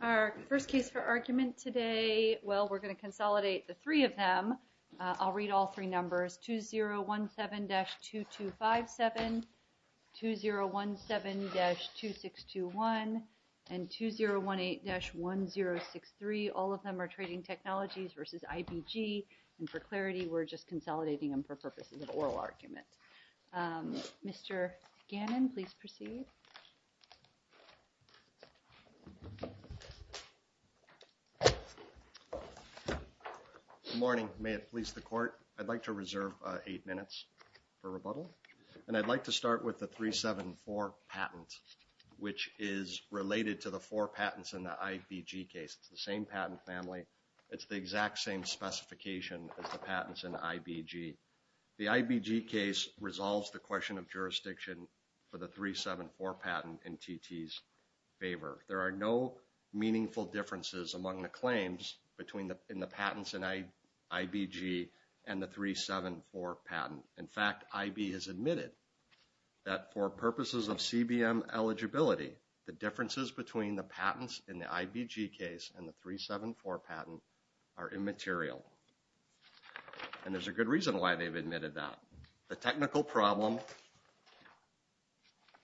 Our first case for argument today, well, we're going to consolidate the three of them. I'll read all three numbers, 2017-2257, 2017-2621, and 2018-1063. All of them are trading technologies versus IBG, and for clarity, we're just consolidating them for purposes of oral argument. Mr. Gannon, please proceed. Good morning. May it please the court, I'd like to reserve eight minutes for rebuttal. And I'd like to start with the 374 patent, which is related to the four patents in the IBG case. It's the same patent family. It's the exact same specification as the patents in IBG. The IBG case resolves the question of jurisdiction for the 374 patent in TT's favor. There are no meaningful differences among the claims in the patents in IBG and the 374 patent. In fact, IB has admitted that for purposes of CBM eligibility, the differences between the patents in the IBG case and the 374 patent are immaterial. And there's a good reason why they've admitted that. The technical problem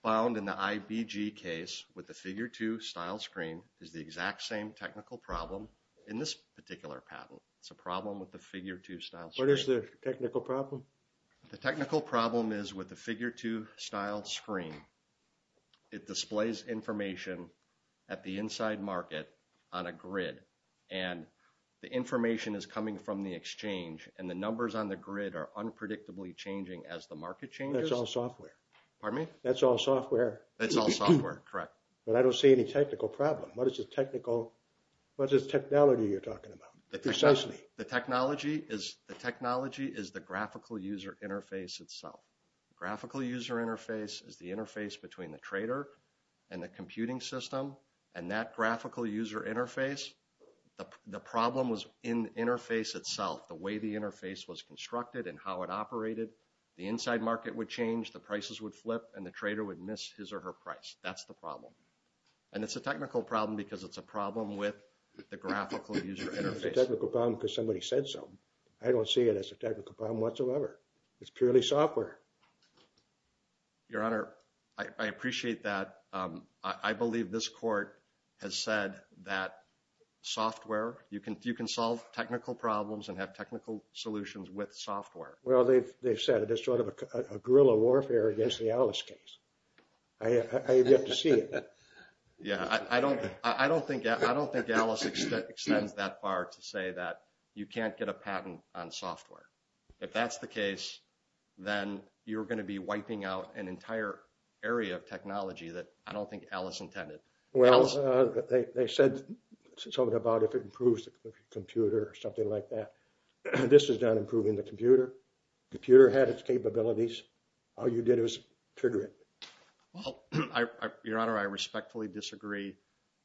found in the IBG case with the figure 2 style screen is the exact same technical problem in this particular patent. It's a problem with the figure 2 style screen. What is the technical problem? The technical problem is with the figure 2 style screen. It displays information at the inside market on a grid. And the information is coming from the exchange. And the numbers on the grid are unpredictably changing as the market changes. That's all software. Pardon me? That's all software. That's all software, correct. But I don't see any technical problem. What is the technology you're talking about? The technology is the graphical user interface itself. The graphical user interface is the interface between the trader and the computing system. And that graphical user interface, the problem was in the interface itself, the way the interface was constructed and how it operated. The inside market would change, the prices would flip, and the trader would miss his or her price. That's the problem. And it's a technical problem because it's a problem with the graphical user interface. It's a technical problem because somebody said so. I don't see it as a technical problem whatsoever. It's purely software. Your Honor, I appreciate that. I believe this court has said that software, you can solve technical problems and have technical solutions with software. Well, they've said it as sort of a guerrilla warfare against the Alice case. I have yet to see it. Yeah, I don't think Alice extends that far to say that you can't get a patent on software. If that's the case, then you're going to be wiping out an entire area of technology that I don't think Alice intended. Well, they said something about if it improves the computer or something like that. This is not improving the computer. The computer had its capabilities. All you did was trigger it. Well, Your Honor, I respectfully disagree.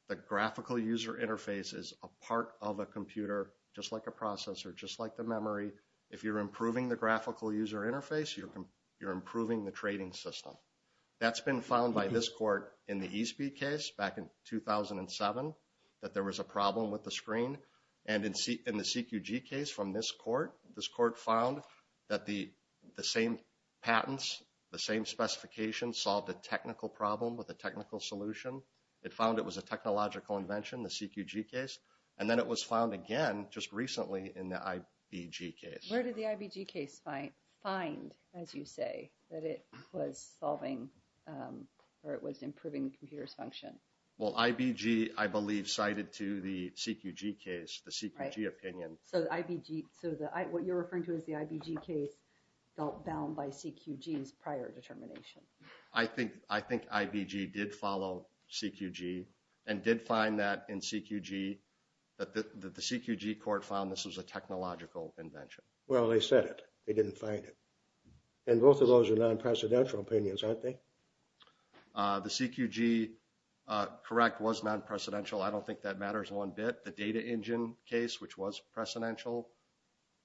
The graphical user interface is a part of a computer, just like a processor, just like the memory. If you're improving the graphical user interface, you're improving the trading system. That's been found by this court in the ESB case back in 2007 that there was a problem with the screen. And in the CQG case from this court, this court found that the same patents, the same specifications solved a technical problem with a technical solution. It found it was a technological invention, the CQG case. And then it was found again just recently in the IBG case. Where did the IBG case find, as you say, that it was improving the computer's function? Well, IBG, I believe, cited to the CQG case, the CQG opinion. So what you're referring to as the IBG case felt bound by CQG's prior determination. I think IBG did follow CQG and did find that in CQG that the CQG court found this was a technological invention. Well, they said it. They didn't find it. And both of those are non-precedential opinions, aren't they? The CQG, correct, was non-precedential. I don't think that matters one bit. case, which was precedential,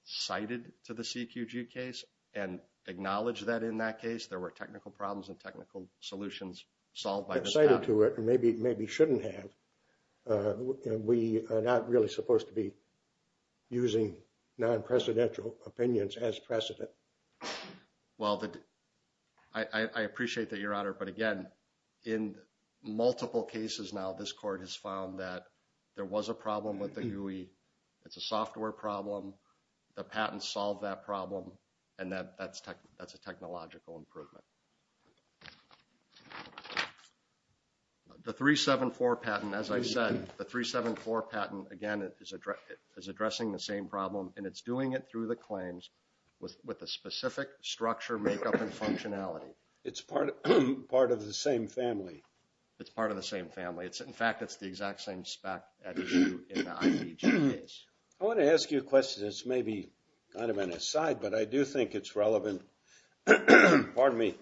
cited to the CQG case and acknowledged that in that case there were technical problems and technical solutions solved by the staff. Cited to it and maybe shouldn't have. We are not really supposed to be using non-precedential opinions as precedent. Well, I appreciate that, Your Honor. But again, in multiple cases now, this court has found that there was a problem with the GUI. It's a software problem. The patent solved that problem. And that's a technological improvement. The 374 patent, as I said, the 374 patent, again, is addressing the same problem. And it's doing it through the claims with a specific structure, makeup, and functionality. It's part of the same family. It's part of the same family. In fact, it's the exact same spec as you in the IBG case. I want to ask you a question that's maybe kind of an aside, but I do think it's relevant. Pardon me.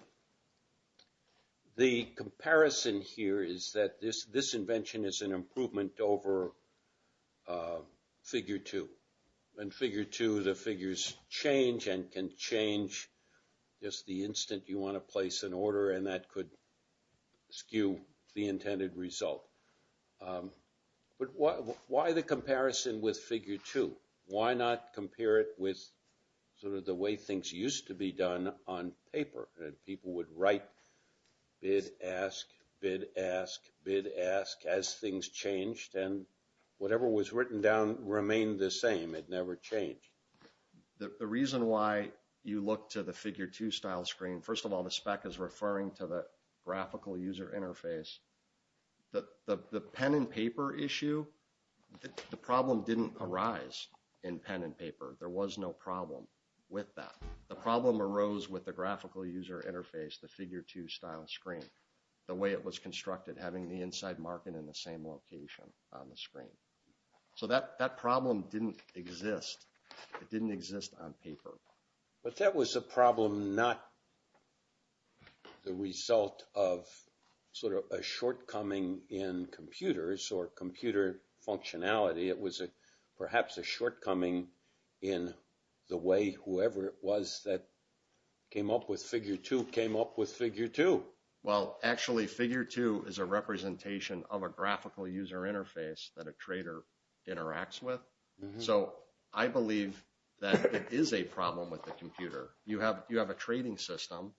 The comparison here is that this invention is an improvement over figure two. In figure two, the figures change and can change just the instant you want to place an order. And that could skew the intended result. But why the comparison with figure two? Why not compare it with sort of the way things used to be done on paper? And people would write bid, ask, bid, ask, bid, ask as things changed. And whatever was written down remained the same. It never changed. The reason why you look to the figure two style screen, first of all, the spec is referring to the graphical user interface. The pen and paper issue, the problem didn't arise in pen and paper. There was no problem with that. The problem arose with the graphical user interface, the figure two style screen, the way it was constructed, having the inside marking in the same location on the screen. So that problem didn't exist. It didn't exist on paper. But that was a problem not the result of sort of a shortcoming in computers or computer functionality. It was perhaps a shortcoming in the way whoever it was that came up with figure two came up with figure two. Well, actually, figure two is a representation of a graphical user interface that a trader interacts with. So I believe that it is a problem with the computer. You have a trading system.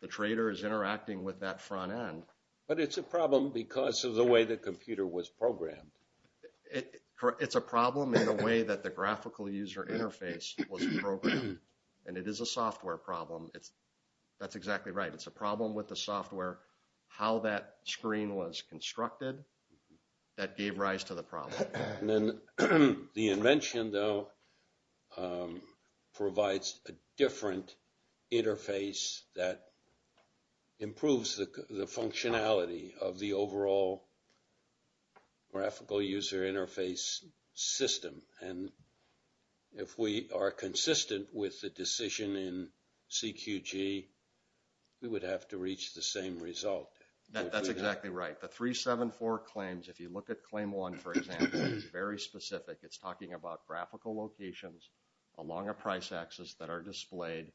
The trader is interacting with that front end. But it's a problem because of the way the computer was programmed. It's a problem in the way that the graphical user interface was programmed. And it is a software problem. That's exactly right. It's a problem with the software, how that screen was constructed that gave rise to the problem. The invention, though, provides a different interface that improves the functionality of the overall graphical user interface system. And if we are consistent with the decision in CQG, we would have to reach the same result. That's exactly right. The 374 claims, if you look at claim one, for example, is very specific. It's talking about graphical locations along a price axis that are displayed.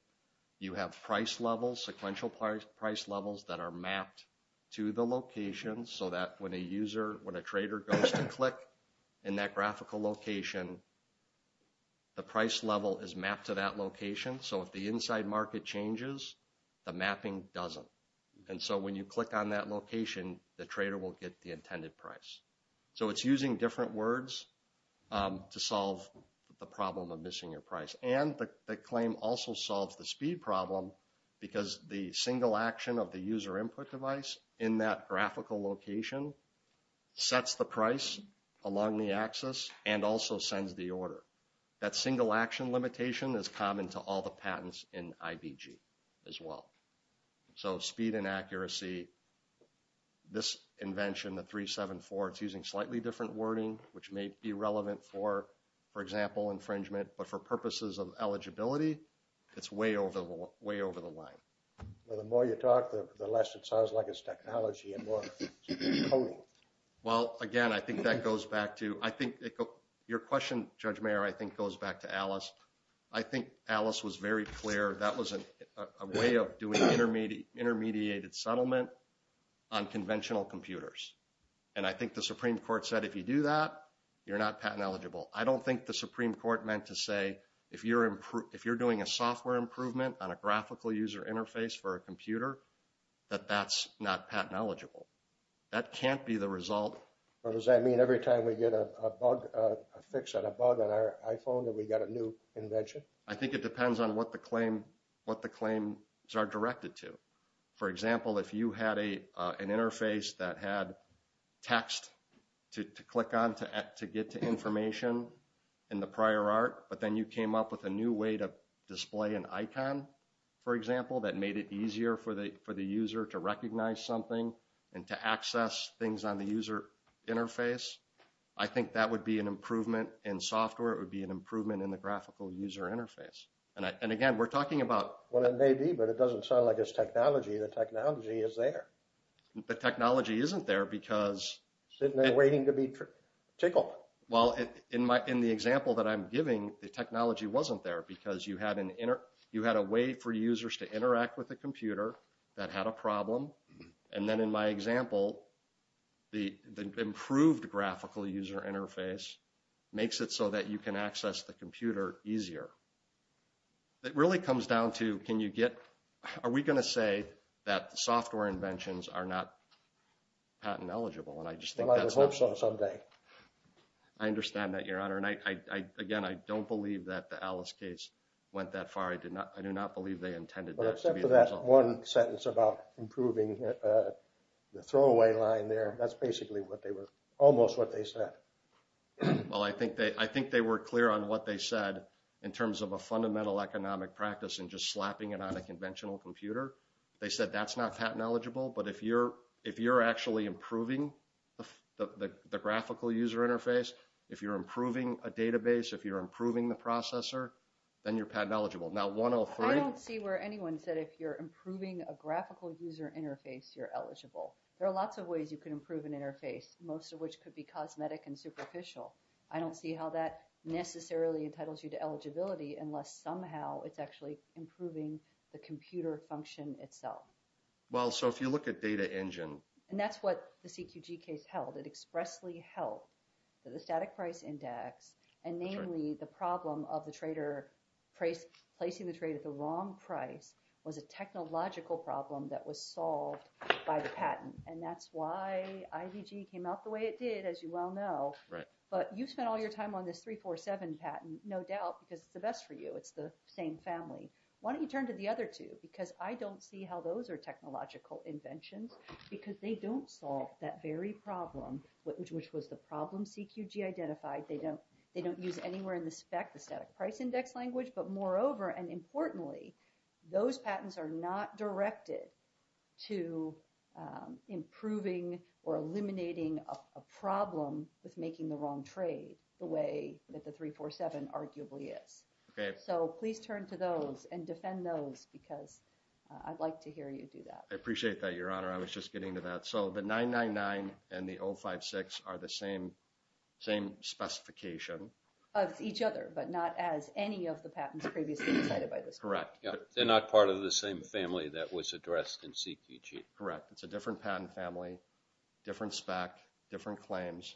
You have price levels, sequential price levels that are mapped to the location so that when a user, when a trader goes to click in that graphical location, the price level is mapped to that location. So if the inside market changes, the mapping doesn't. And so when you click on that location, the trader will get the intended price. So it's using different words to solve the problem of missing your price. And the claim also solves the speed problem because the single action of the user input device in that graphical location sets the price along the axis and also sends the order. That single action limitation is common to all the patents in IBG as well. So speed and accuracy, this invention, the 374, it's using slightly different wording, which may be relevant for, for example, infringement. But for purposes of eligibility, it's way over the line. Well, the more you talk, the less it sounds like it's technology and more coding. Well, again, I think that goes back to, I think your question, Judge Mayer, I think goes back to Alice. I think Alice was very clear that was a way of doing intermediated settlement on conventional computers. And I think the Supreme Court said if you do that, you're not patent eligible. I don't think the Supreme Court meant to say if you're doing a software improvement on a graphical user interface for a computer, that that's not patent eligible. That can't be the result. Or does that mean every time we get a bug, a fix on a bug on our iPhone, that we got a new invention? I think it depends on what the claim, what the claims are directed to. For example, if you had an interface that had text to click on to get to information in the prior art, but then you came up with a new way to display an icon, for example, that made it easier for the user to recognize something and to access things on the user interface, I think that would be an improvement in software. It would be an improvement in the graphical user interface. And again, we're talking about... Well, it may be, but it doesn't sound like it's technology. The technology is there. The technology isn't there because... Sitting there waiting to be tickled. Well, in the example that I'm giving, the technology wasn't there because you had a way for users to interact with the computer that had a problem. And then in my example, the improved graphical user interface makes it so that you can access the computer easier. It really comes down to can you get... Are we going to say that the software inventions are not patent eligible? And I just think that's not... Well, I would hope so someday. I understand that, Your Honor. Again, I don't believe that the Alice case went that far. I do not believe they intended that to be the result. Except for that one sentence about improving the throwaway line there. That's basically what they were... Almost what they said. Well, I think they were clear on what they said in terms of a fundamental economic practice and just slapping it on a conventional computer. They said that's not patent eligible, but if you're actually improving the graphical user interface, if you're improving a database, if you're improving the processor, then you're patent eligible. Now, 103... I don't see where anyone said if you're improving a graphical user interface, you're eligible. There are lots of ways you can improve an interface, most of which could be cosmetic and superficial. I don't see how that necessarily entitles you to eligibility unless somehow it's actually improving the computer function itself. Well, so if you look at Data Engine... And that's what the CQG case held. It expressly held that the static price index, and namely the problem of the trader placing the trade at the wrong price, was a technological problem that was solved by the patent. And that's why IVG came out the way it did, as you well know. But you spent all your time on this 347 patent, no doubt, because it's the best for you. It's the same family. Why don't you turn to the other two? Because I don't see how those are technological inventions, because they don't solve that very problem, which was the problem CQG identified. They don't use anywhere in the spec the static price index language. But moreover, and importantly, those patents are not directed to improving or eliminating a problem with making the wrong trade the way that the 347 arguably is. So please turn to those and defend those, because I'd like to hear you do that. I appreciate that, Your Honor. I was just getting to that. So the 999 and the 056 are the same specification. Of each other, but not as any of the patents previously cited by this court. Correct. They're not part of the same family that was addressed in CQG. Correct. It's a different patent family, different spec, different claims.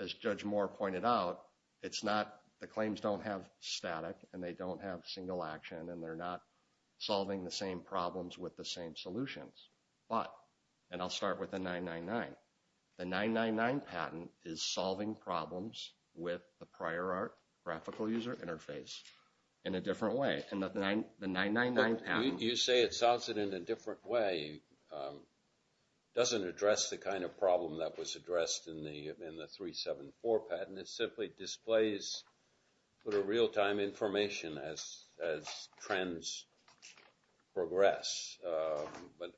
As Judge Moore pointed out, the claims don't have static, and they don't have single action, and they're not solving the same problems with the same solutions. And I'll start with the 999. The 999 patent is solving problems with the prior art graphical user interface in a different way. You say it solves it in a different way. It doesn't address the kind of problem that was addressed in the 374 patent. It simply displays real-time information as trends progress. But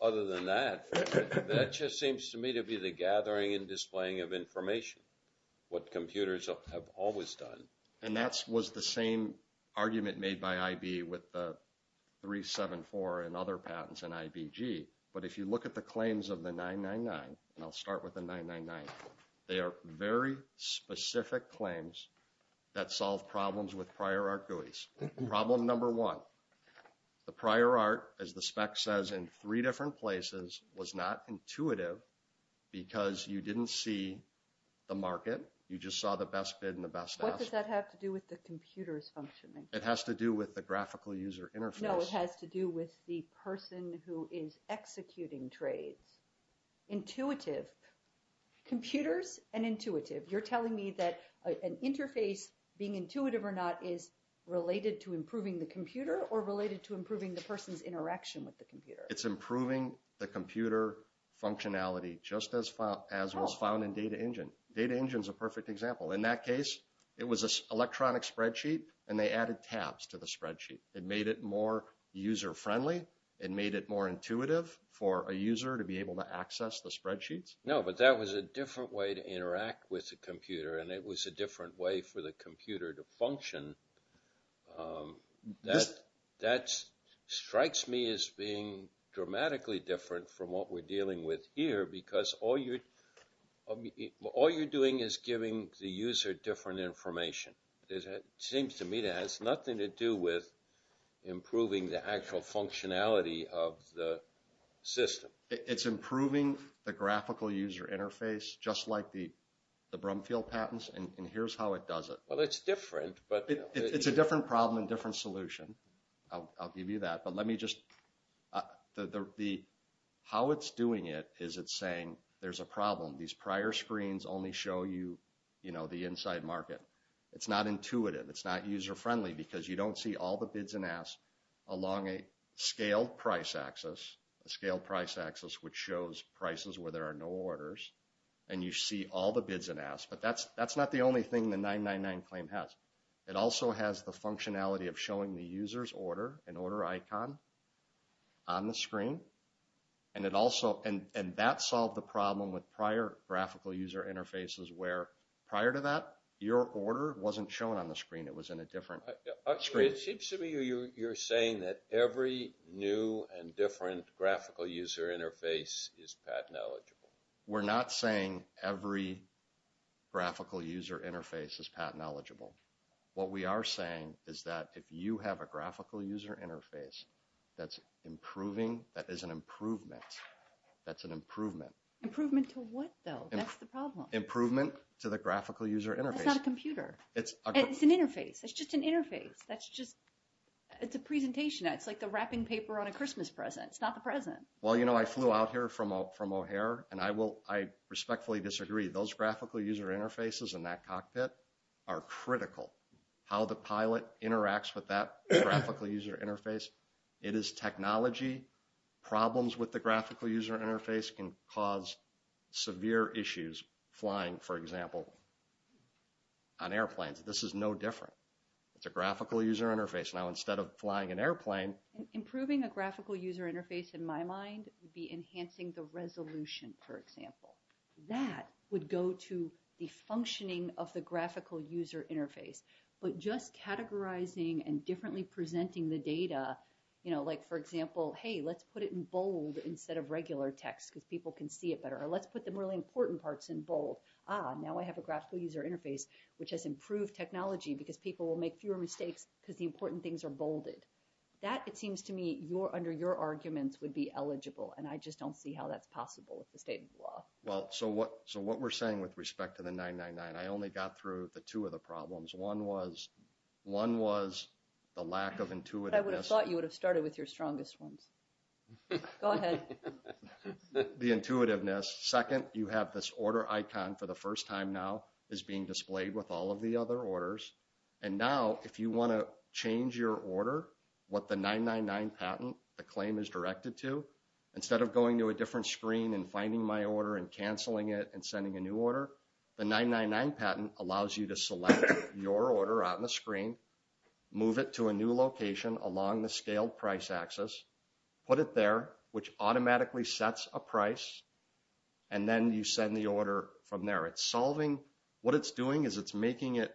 other than that, that just seems to me to be the gathering and displaying of information, what computers have always done. And that was the same argument made by IB with the 374 and other patents in IBG. But if you look at the claims of the 999, and I'll start with the 999, they are very specific claims that solve problems with prior art GUIs. Problem number one, the prior art, as the spec says, in three different places was not intuitive because you didn't see the market. You just saw the best bid and the best ask. What does that have to do with the computer's functioning? It has to do with the graphical user interface. No, it has to do with the person who is executing trades. Intuitive. Computers and intuitive. You're telling me that an interface, being intuitive or not, is related to improving the computer or related to improving the person's interaction with the computer? It's improving the computer functionality, just as was found in Data Engine. Data Engine is a perfect example. In that case, it was an electronic spreadsheet, and they added tabs to the spreadsheet. It made it more user-friendly. It made it more intuitive for a user to be able to access the spreadsheets. No, but that was a different way to interact with the computer, and it was a different way for the computer to function. That strikes me as being dramatically different from what we're dealing with here because all you're doing is giving the user different information. It seems to me it has nothing to do with improving the actual functionality of the system. It's improving the graphical user interface, just like the Brumfield patents, and here's how it does it. Well, it's different. It's a different problem and different solution. I'll give you that, but how it's doing it is it's saying there's a problem. These prior screens only show you the inside market. It's not intuitive. It's not user-friendly because you don't see all the bids and asks along a scaled price axis, a scaled price axis which shows prices where there are no orders, and you see all the bids and asks. But that's not the only thing the 999 claim has. It also has the functionality of showing the user's order, an order icon on the screen, and that solved the problem with prior graphical user interfaces where prior to that, your order wasn't shown on the screen. It was in a different screen. It seems to me you're saying that every new and different graphical user interface is patent eligible. We're not saying every graphical user interface is patent eligible. What we are saying is that if you have a graphical user interface that's improving, that is an improvement. That's an improvement. Improvement to what, though? That's the problem. Improvement to the graphical user interface. That's not a computer. It's an interface. It's just an interface. That's just a presentation. It's like the wrapping paper on a Christmas present. It's not the present. Well, you know, I flew out here from O'Hare, and I respectfully disagree. Those graphical user interfaces in that cockpit are critical. How the pilot interacts with that graphical user interface, it is technology. Problems with the graphical user interface can cause severe issues, flying, for example, on airplanes. This is no different. It's a graphical user interface. Now, instead of flying an airplane. Improving a graphical user interface, in my mind, would be enhancing the resolution, for example. That would go to the functioning of the graphical user interface. But just categorizing and differently presenting the data, you know, like, for example, hey, let's put it in bold instead of regular text because people can see it better. Or let's put the really important parts in bold. Ah, now I have a graphical user interface which has improved technology because people will make fewer mistakes because the important things are bolded. That, it seems to me, under your arguments, would be eligible, and I just don't see how that's possible with the state of the law. Well, so what we're saying with respect to the 999, I only got through the two of the problems. One was the lack of intuitiveness. I would have thought you would have started with your strongest ones. Go ahead. The intuitiveness. Second, you have this order icon for the first time now is being displayed with all of the other orders. And now, if you want to change your order, what the 999 patent, the claim is directed to, instead of going to a different screen and finding my order and canceling it and sending a new order, the 999 patent allows you to select your order on the screen, move it to a new location along the scaled price axis, put it there, which automatically sets a price. And then you send the order from there. It's solving. What it's doing is it's making it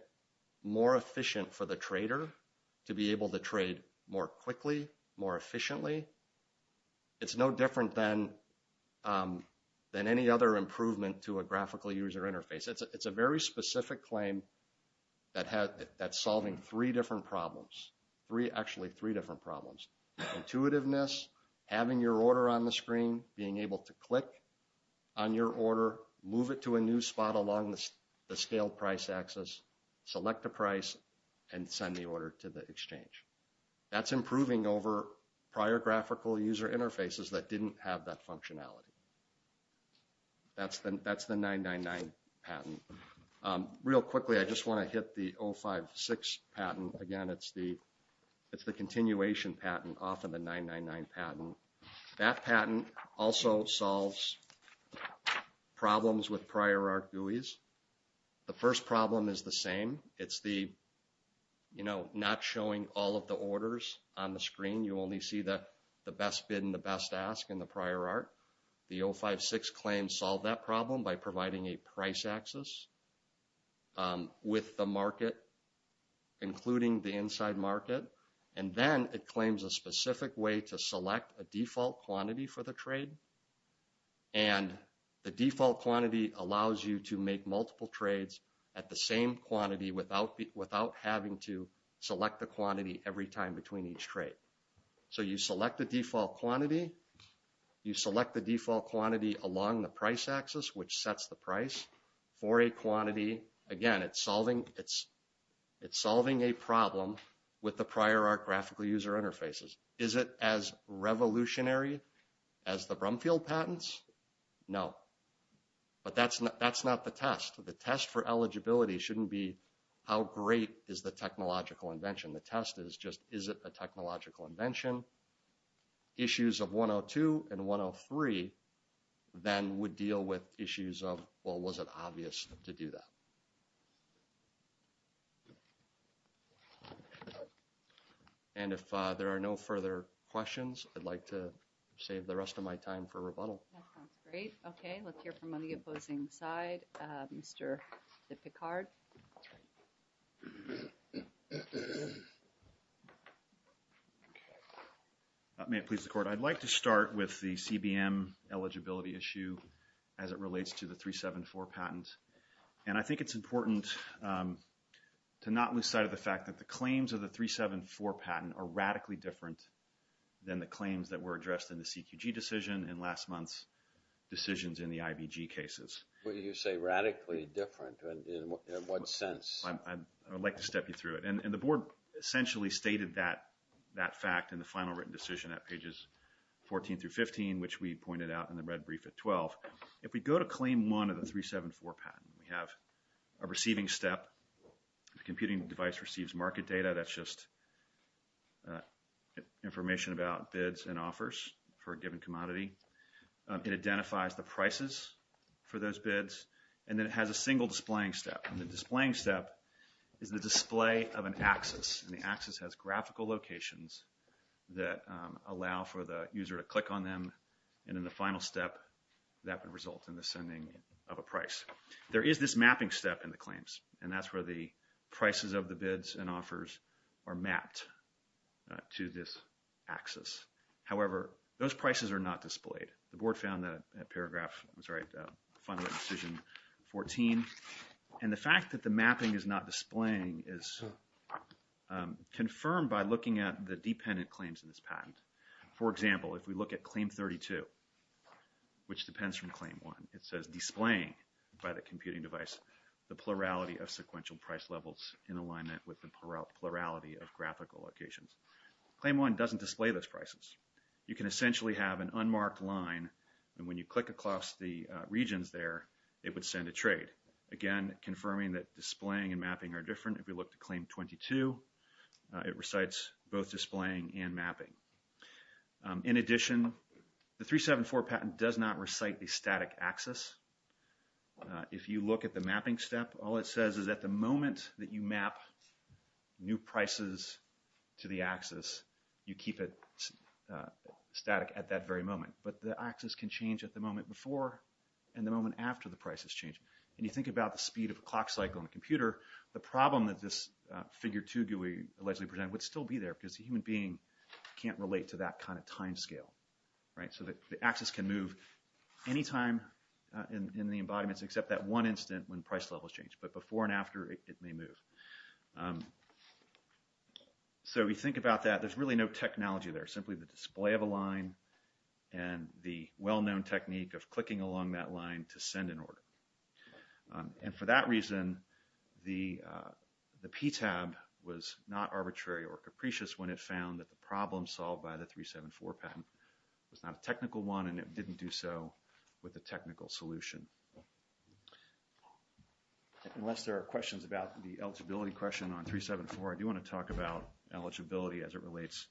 more efficient for the trader to be able to trade more quickly, more efficiently. It's no different than any other improvement to a graphical user interface. It's a very specific claim that's solving three different problems. Actually, three different problems. Intuitiveness, having your order on the screen, being able to click on your order, move it to a new spot along the scale price axis, select a price, and send the order to the exchange. That's improving over prior graphical user interfaces that didn't have that functionality. That's the 999 patent. Real quickly, I just want to hit the 056 patent. Again, it's the continuation patent off of the 999 patent. That patent also solves problems with prior art GUIs. The first problem is the same. It's the not showing all of the orders on the screen. You only see the best bid and the best ask in the prior art. The 056 claims solve that problem by providing a price axis with the market, including the inside market. And then it claims a specific way to select a default quantity for the trade. And the default quantity allows you to make multiple trades at the same quantity without having to select the quantity every time between each trade. So you select the default quantity. You select the default quantity along the price axis, which sets the price for a quantity. Again, it's solving a problem with the prior art graphical user interfaces. Is it as revolutionary as the Brumfield patents? No. But that's not the test. The test for eligibility shouldn't be how great is the technological invention. The test is just is it a technological invention? Issues of 102 and 103 then would deal with issues of, well, was it obvious to do that? And if there are no further questions, I'd like to save the rest of my time for rebuttal. Great. Okay. Let's hear from on the opposing side. Mr. Picard. May it please the court. I'd like to start with the CBM eligibility issue as it relates to the 374 patent. And I think it's important to not lose sight of the fact that the claims of the 374 patent are radically different than the claims that were addressed in the CQG decision and last month's decisions in the IBG cases. When you say radically different, in what sense? I'd like to step you through it. And the board essentially stated that fact in the final written decision at pages 14 through 15, which we pointed out in the red brief at 12. If we go to claim one of the 374 patent, we have a receiving step. The computing device receives market data. That's just information about bids and offers for a given commodity. It identifies the prices for those bids. And then it has a single displaying step. And the displaying step is the display of an axis. And the axis has graphical locations that allow for the user to click on them. And in the final step, that would result in the sending of a price. There is this mapping step in the claims. And that's where the prices of the bids and offers are mapped to this axis. However, those prices are not displayed. The board found that in paragraph, I'm sorry, final decision 14. And the fact that the mapping is not displaying is confirmed by looking at the dependent claims in this patent. For example, if we look at claim 32, which depends from claim one, it says displaying by the computing device the plurality of sequential price levels in alignment with the plurality of graphical locations. Claim one doesn't display those prices. You can essentially have an unmarked line. And when you click across the regions there, it would send a trade. Again, confirming that displaying and mapping are different. If we look at claim 22, it recites both displaying and mapping. In addition, the 374 patent does not recite the static axis. If you look at the mapping step, all it says is at the moment that you map new prices to the axis, you keep it static at that very moment. But the axis can change at the moment before and the moment after the price has changed. And you think about the speed of a clock cycle on a computer, the problem that this figure 2 would allegedly present would still be there because the human being can't relate to that kind of time scale. So the axis can move any time in the embodiments except that one instant when price levels change. But before and after, it may move. So we think about that. And the well-known technique of clicking along that line to send an order. And for that reason, the PTAB was not arbitrary or capricious when it found that the problem solved by the 374 patent was not a technical one and it didn't do so with a technical solution. Unless there are questions about the eligibility question on 374, I do want to talk about eligibility as it relates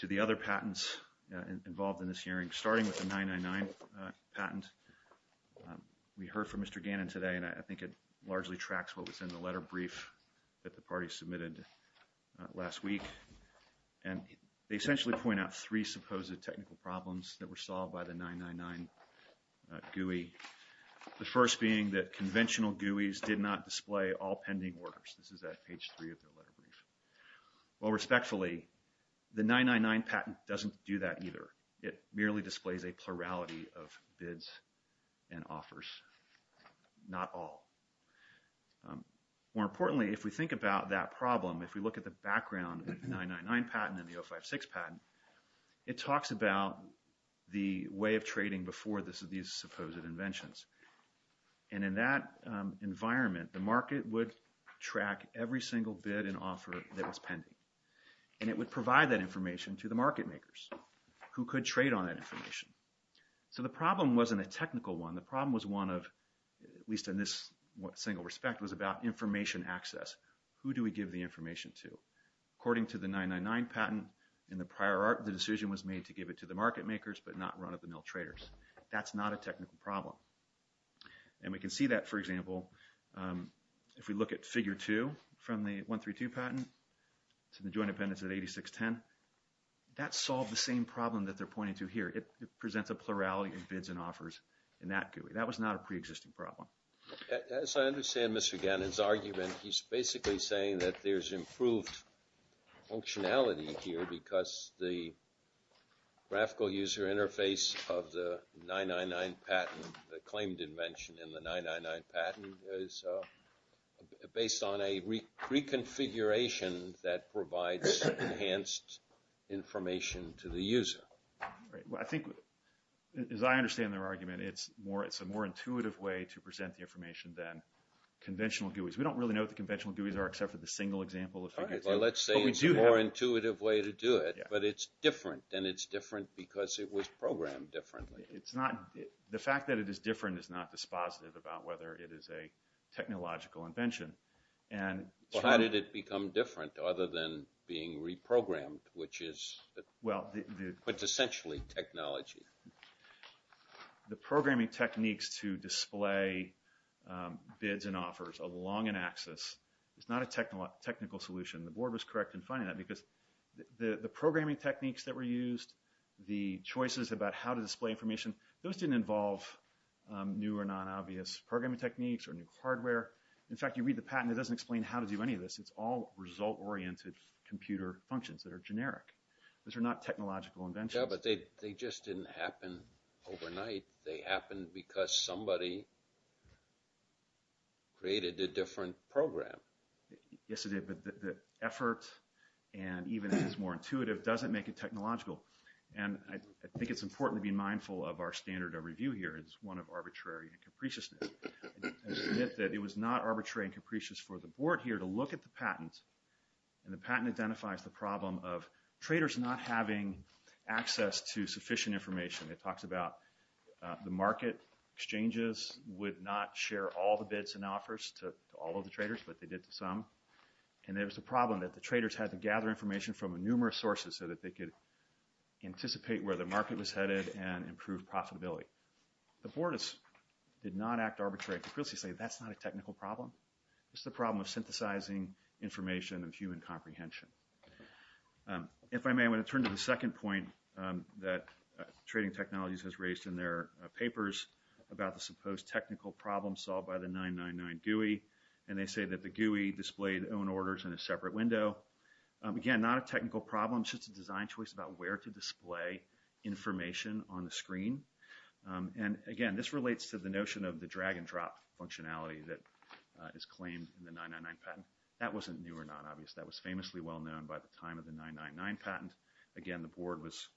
to the other patents involved in this hearing, starting with the 999 patent. We heard from Mr. Gannon today, and I think it largely tracks what was in the letter brief that the party submitted last week. And they essentially point out three supposed technical problems that were solved by the 999 GUI, the first being that conventional GUIs did not display all pending orders. This is at page three of the letter brief. Well, respectfully, the 999 patent doesn't do that either. It merely displays a plurality of bids and offers, not all. More importantly, if we think about that problem, if we look at the background of the 999 patent and the 056 patent, it talks about the way of trading before these supposed inventions. And in that environment, the market would track every single bid and offer that was pending. And it would provide that information to the market makers who could trade on that information. So the problem wasn't a technical one. The problem was one of, at least in this single respect, was about information access. Who do we give the information to? According to the 999 patent, in the prior art, the decision was made to give it to the market makers but not run-of-the-mill traders. That's not a technical problem. And we can see that, for example, if we look at figure two from the 132 patent to the joint appendix of 8610, that solved the same problem that they're pointing to here. It presents a plurality of bids and offers in that GUI. That was not a preexisting problem. As I understand Mr. Gannon's argument, he's basically saying that there's improved functionality here because the graphical user interface of the 999 patent, the claimed invention in the 999 patent, is based on a reconfiguration that provides enhanced information to the user. I think, as I understand their argument, it's a more intuitive way to present the information than conventional GUIs. We don't really know what the conventional GUIs are except for the single example of figure two. Let's say it's a more intuitive way to do it, but it's different, and it's different because it was programmed differently. The fact that it is different is not dispositive about whether it is a technological invention. How did it become different other than being reprogrammed, which is essentially technology? The programming techniques to display bids and offers along an axis is not a technical solution. The board was correct in finding that because the programming techniques that were used, the choices about how to display information, those didn't involve new or non-obvious programming techniques or new hardware. In fact, you read the patent, it doesn't explain how to do any of this. It's all result-oriented computer functions that are generic. Those are not technological inventions. Yeah, but they just didn't happen overnight. They happened because somebody created a different program. Yes, it did, but the effort, and even if it's more intuitive, doesn't make it technological. I think it's important to be mindful of our standard of review here as one of arbitrary and capriciousness. It was not arbitrary and capricious for the board here to look at the patent, and the patent identifies the problem of traders not having access to sufficient information. It talks about the market exchanges would not share all the bids and offers to all of the traders, but they did to some, and there was a problem that the traders had to gather information from numerous sources so that they could anticipate where the market was headed and improve profitability. The board did not act arbitrary and capriciously, saying that's not a technical problem. It's the problem of synthesizing information and human comprehension. If I may, I want to turn to the second point that Trading Technologies has raised in their papers about the supposed technical problem solved by the 999 GUI, and they say that the GUI displayed own orders in a separate window. Again, not a technical problem. It's just a design choice about where to display information on the screen, and again, this relates to the notion of the drag-and-drop functionality that is claimed in the 999 patent. That wasn't new or not obvious. That was famously well-known by the time of the 999 patent. Again, the board was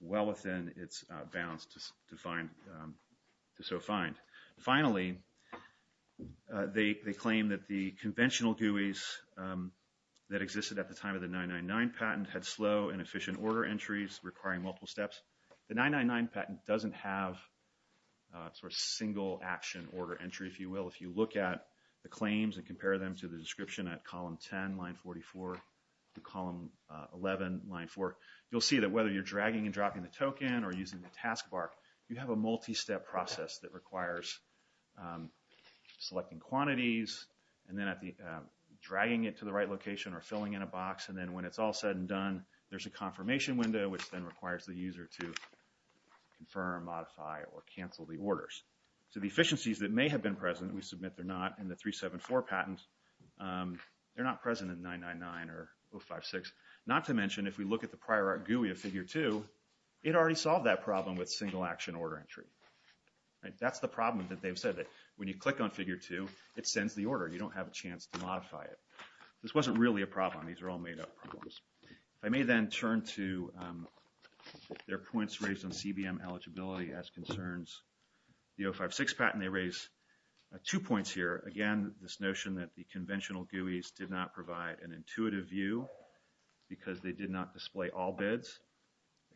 well within its bounds to so find. Finally, they claim that the conventional GUIs that existed at the time of the 999 patent had slow and efficient order entries requiring multiple steps. The 999 patent doesn't have sort of single action order entry, if you will. If you look at the claims and compare them to the description at column 10, line 44, to column 11, line 4, you'll see that whether you're dragging and dropping the token or using the task bar, you have a multi-step process that requires selecting quantities and then dragging it to the right location or filling in a box, and then when it's all said and done, there's a confirmation window, which then requires the user to confirm, modify, or cancel the orders. So the efficiencies that may have been present and we submit they're not in the 374 patent, they're not present in 999 or 056. Not to mention, if we look at the prior art GUI of Figure 2, it already solved that problem with single action order entry. That's the problem that they've said that when you click on Figure 2, it sends the order. You don't have a chance to modify it. This wasn't really a problem. These are all made-up problems. I may then turn to their points raised on CBM eligibility as concerns the 056 patent. They raise two points here. Again, this notion that the conventional GUIs did not provide an intuitive view because they did not display all bids.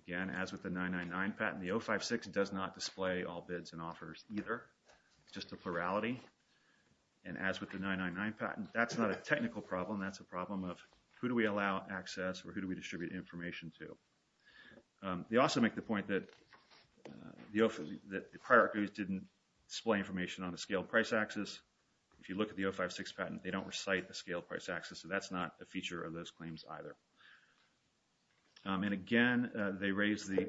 Again, as with the 999 patent, the 056 does not display all bids and offers either. It's just a plurality. And as with the 999 patent, that's not a technical problem. That's a problem of who do we allow access or who do we distribute information to. They also make the point that the prior art GUIs didn't display information on a scaled price axis. If you look at the 056 patent, they don't recite the scaled price axis, so that's not a feature of those claims either. And again, they raise the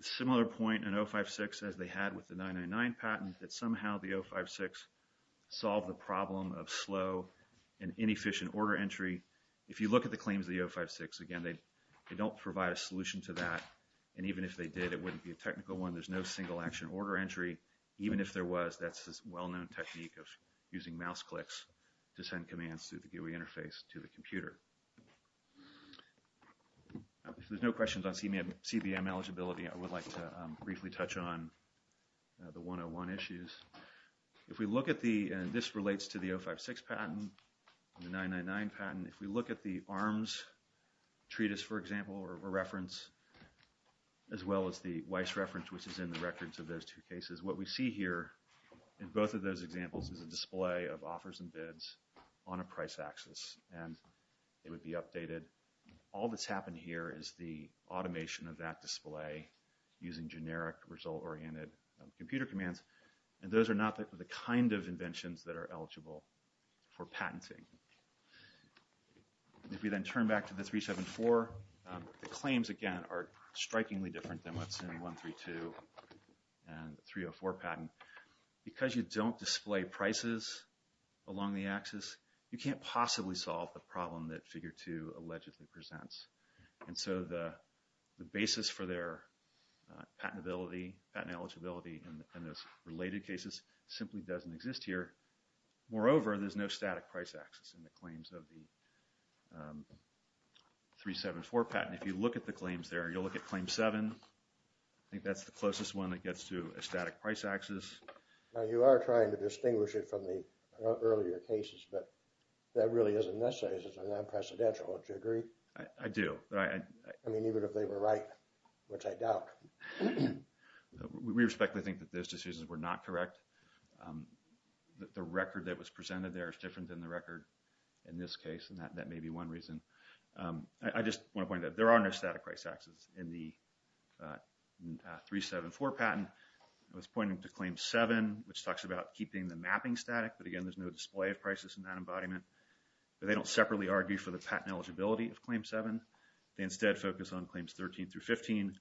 similar point in 056 as they had with the 999 patent, that somehow the 056 solved the problem of slow and inefficient order entry. If you look at the claims of the 056, again, they don't provide a solution to that. And even if they did, it wouldn't be a technical one. There's no single-action order entry. Even if there was, that's a well-known technique of using mouse clicks If there's no questions on CBM eligibility, I would like to briefly touch on the 101 issues. This relates to the 056 patent and the 999 patent. If we look at the ARMS treatise, for example, or reference, as well as the Weiss reference, which is in the records of those two cases, what we see here in both of those examples is a display of offers and bids on a price axis. And it would be updated. All that's happened here is the automation of that display using generic result-oriented computer commands. And those are not the kind of inventions that are eligible for patenting. If we then turn back to the 374, the claims, again, are strikingly different than what's in 132 and 304 patent. Because you don't display prices along the axis, you can't possibly solve the problem that figure 2 allegedly presents. And so the basis for their patent eligibility in those related cases simply doesn't exist here. Moreover, there's no static price axis in the claims of the 374 patent. If you look at the claims there, you'll look at claim 7. I think that's the closest one that gets to a static price axis. Now, you are trying to distinguish it from the earlier cases, but that really isn't necessary since it's a non-precedential. Don't you agree? I do. I mean, even if they were right, which I doubt. We respectfully think that those decisions were not correct. The record that was presented there is different than the record in this case, and that may be one reason. I just want to point out that there are no static price axis in the 374 patent. I was pointing to claim 7, which talks about keeping the mapping static, but again, there's no display of prices in that embodiment. They don't separately argue for the patent eligibility of claim 7. They instead focus on claims 13 through 15.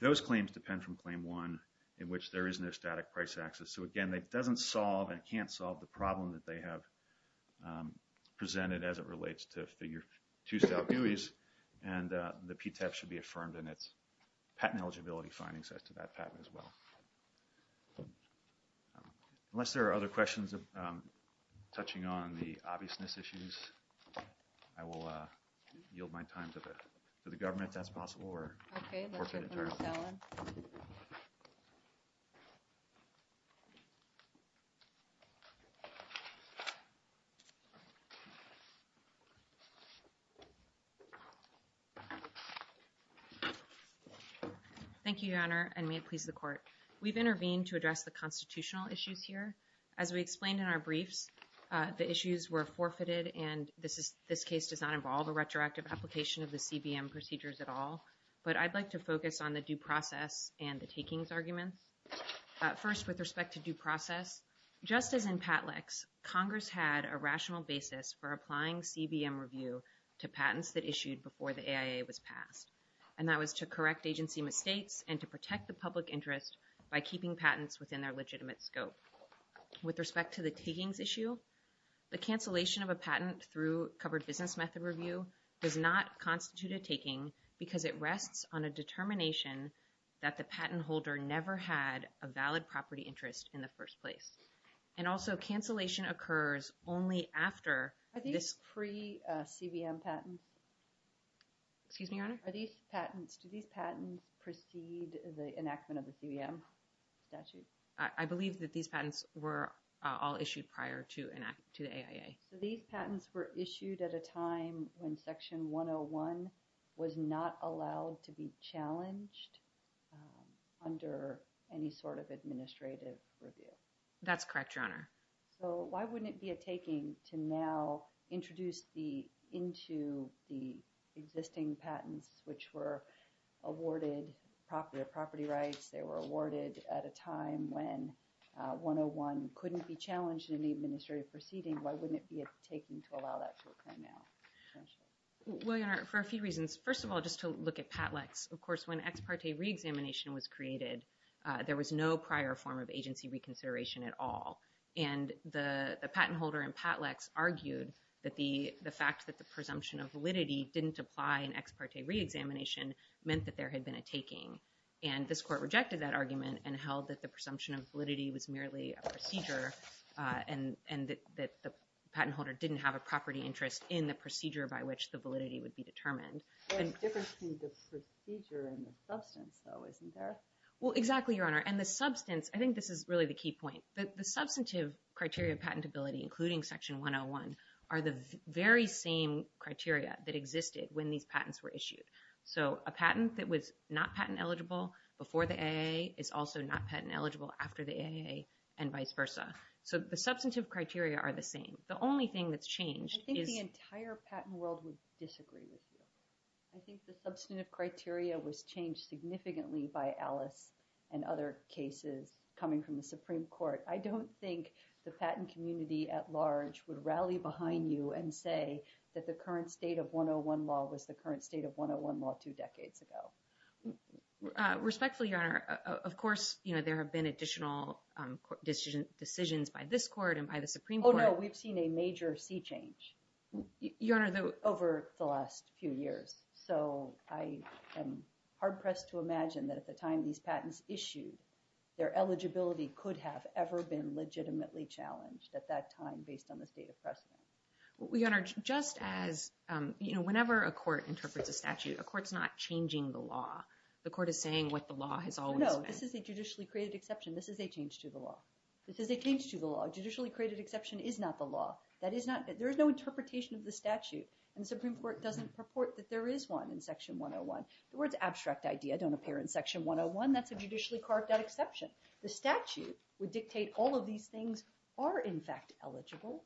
Those claims depend from claim 1, in which there is no static price axis. So again, that doesn't solve and can't solve the problem that they have presented as it relates to Figure 2 style GUIs, and the PTAP should be affirmed in its patent eligibility findings as to that patent as well. Unless there are other questions touching on the obviousness issues, I will yield my time to the government if that's possible. Thank you, Your Honor, and may it please the Court. We've intervened to address the constitutional issues here. As we explained in our briefs, the issues were forfeited, and this case does not involve a retroactive application of the CBM procedures at all, but I'd like to focus on the due process and the takings arguments. First, with respect to due process, just as in PATLEX, Congress had a rational basis for applying CBM review to patents that issued before the AIA was passed, and that was to correct agency mistakes and to protect the public interest by keeping patents within their legitimate scope. With respect to the takings issue, the cancellation of a patent through covered business method review does not constitute a taking because it rests on a determination that the patent holder never had a valid property interest in the first place. And also, cancellation occurs only after this... Are these pre-CBM patents? Excuse me, Your Honor? Are these patents, do these patents precede the enactment of the CBM statute? I believe that these patents were all issued prior to the AIA. So these patents were issued at a time when Section 101 was not allowed to be challenged under any sort of administrative review? That's correct, Your Honor. So why wouldn't it be a taking to now introduce into the existing patents, which were awarded property rights, they were awarded at a time when 101 couldn't be challenged in any administrative proceeding, why wouldn't it be a taking to allow that to occur now? Well, Your Honor, for a few reasons. First of all, just to look at PATLEX. Of course, when ex parte re-examination was created, there was no prior form of agency reconsideration at all. And the patent holder in PATLEX argued that the fact that the presumption of validity didn't apply in ex parte re-examination meant that there had been a taking. And this court rejected that argument and held that the presumption of validity was merely a procedure and that the patent holder didn't have a property interest in the procedure by which the validity would be determined. There's a difference between the procedure and the substance, though, isn't there? Well, exactly, Your Honor. And the substance, I think this is really the key point. The substantive criteria of patentability, including Section 101, are the very same criteria that existed when these patents were issued. So a patent that was not patent eligible before the AA is also not patent eligible after the AA and vice versa. So the substantive criteria are the same. The only thing that's changed is... I think the entire patent world would disagree with you. I think the substantive criteria was changed significantly by Alice and other cases coming from the Supreme Court. I don't think the patent community at large would rally behind you and say that the current state of 101 law was the current state of 101 law two decades ago. Respectfully, Your Honor, of course, you know, there have been additional decisions by this court and by the Supreme Court. Oh, no, we've seen a major sea change over the last few years. So I am hard-pressed to imagine that at the time these patents issued, their eligibility could have ever been legitimately challenged at that time based on the state of precedent. Your Honor, just as, you know, whenever a court interprets a statute, a court's not changing the law. The court is saying what the law has always been. No, this is a judicially created exception. This is a change to the law. This is a change to the law. A judicially created exception is not the law. There is no interpretation of the statute, and the Supreme Court doesn't purport that there is one in Section 101. The words abstract idea don't appear in Section 101. That's a judicially carved out exception. The statute would dictate all of these things are, in fact, eligible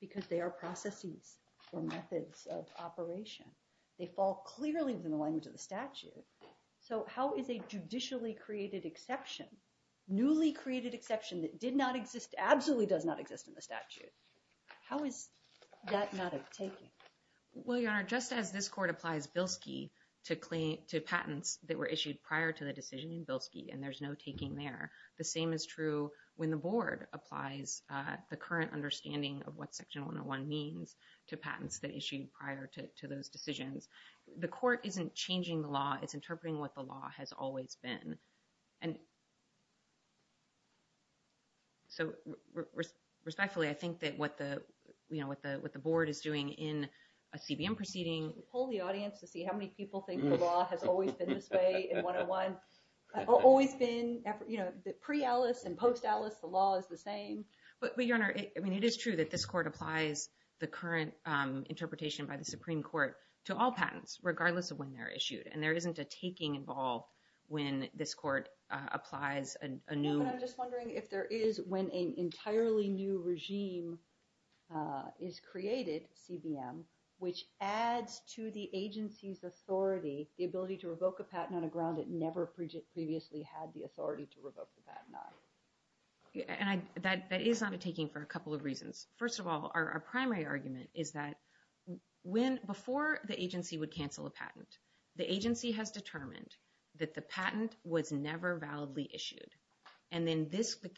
because they are processes or methods of operation. They fall clearly within the language of the statute. So how is a judicially created exception, newly created exception that did not exist, absolutely does not exist in the statute, how is that not a taking? Well, Your Honor, just as this court applies Bilski to patents that were issued prior to the decision in Bilski, and there's no taking there, the same is true when the board applies the current understanding of what Section 101 means to patents that issued prior to those decisions. The court isn't changing the law. It's interpreting what the law has always been. And so respectfully, I think that what the board is doing in a CBM proceeding to pull the audience to see how many people think the law has always been this way in 101. Always been, you know, pre-Alice and post-Alice, the law is the same. But, Your Honor, I mean, it is true that this court applies the current interpretation by the Supreme Court to all patents, regardless of when they're issued. And there isn't a taking involved when this court applies a new... I'm just wondering if there is when an entirely new regime is created, CBM, which adds to the agency's authority, the ability to revoke a patent on a ground it never previously had the authority to revoke the patent on. And that is not a taking for a couple of reasons. First of all, our primary argument is that before the agency would cancel a patent, the agency has determined that the patent was never validly issued. And then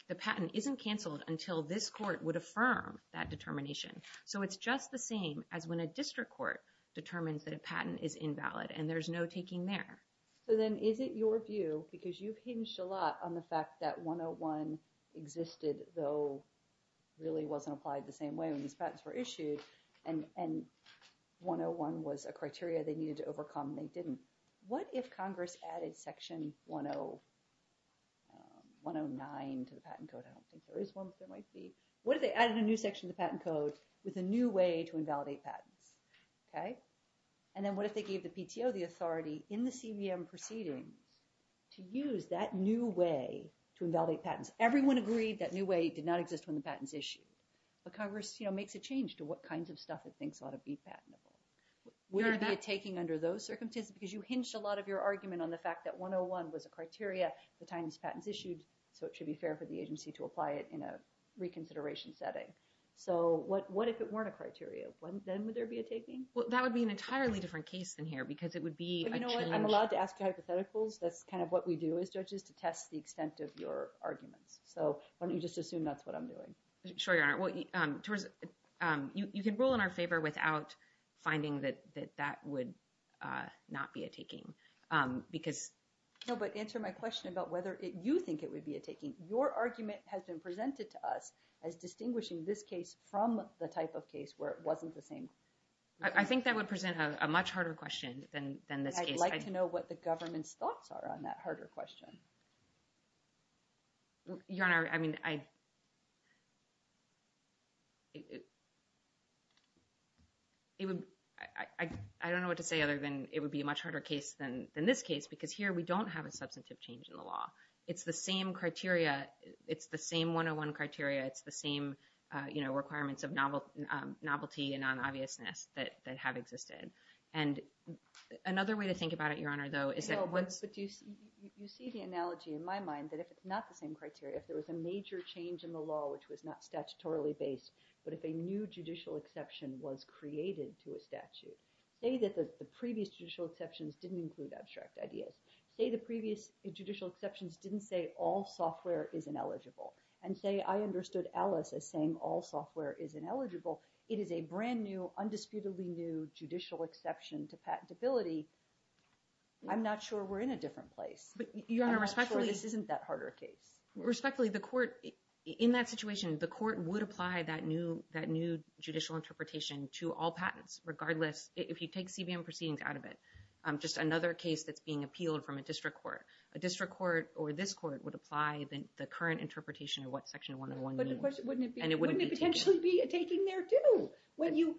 the patent isn't canceled until this court would affirm that determination. So it's just the same as when a district court determines that a patent is invalid, and there's no taking there. So then is it your view, because you've hinged a lot on the fact that 101 existed, though really wasn't applied the same way when these patents were issued, and 101 was a criteria they needed to overcome and they didn't. What if Congress added Section 109 to the Patent Code? I don't think there is one, but there might be. What if they added a new section to the Patent Code with a new way to invalidate patents? And then what if they gave the PTO the authority in the CBM proceedings to use that new way to invalidate patents? Everyone agreed that new way did not exist when the patents issued. But Congress makes a change to what kinds of stuff it thinks ought to be patentable. Would it be a taking under those circumstances? Because you hinged a lot of your argument on the fact that 101 was a criteria at the time these patents issued, so it should be fair for the agency to apply it in a reconsideration setting. So what if it weren't a criteria? Then would there be a taking? Well, that would be an entirely different case than here, because it would be a change. You know what? I'm allowed to ask hypotheticals. That's kind of what we do as judges, to test the extent of your arguments. So why don't you just assume that's what I'm doing? Sure, Your Honor. You can rule in our favor without finding that that would not be a taking. No, but answer my question about whether you think it would be a taking. Your argument has been presented to us as distinguishing this case from the type of case where it wasn't the same. I think that would present a much harder question than this case. I'd like to know what the government's thoughts are on that harder question. Your Honor, I mean, I don't know what to say other than it would be a much harder case than this case, because here we don't have a substantive change in the law. It's the same criteria. It's the same 101 criteria. It's the same requirements of novelty and non-obviousness that have existed. And another way to think about it, Your Honor, though, is that what's— No, but you see the analogy in my mind that if it's not the same criteria, if there was a major change in the law which was not statutorily based, but if a new judicial exception was created to a statute, say that the previous judicial exceptions didn't include abstract ideas. Say the previous judicial exceptions didn't say all software is ineligible. And say I understood Alice as saying all software is ineligible. It is a brand-new, undisputedly new judicial exception to patentability. I'm not sure we're in a different place. But, Your Honor, respectfully— I'm not sure this isn't that harder a case. Respectfully, the court—in that situation, the court would apply that new judicial interpretation to all patents, regardless. If you take CBM proceedings out of it, just another case that's being appealed from a district court. A district court or this court would apply the current interpretation of what Section 101 means. Wouldn't it potentially be a taking there, too?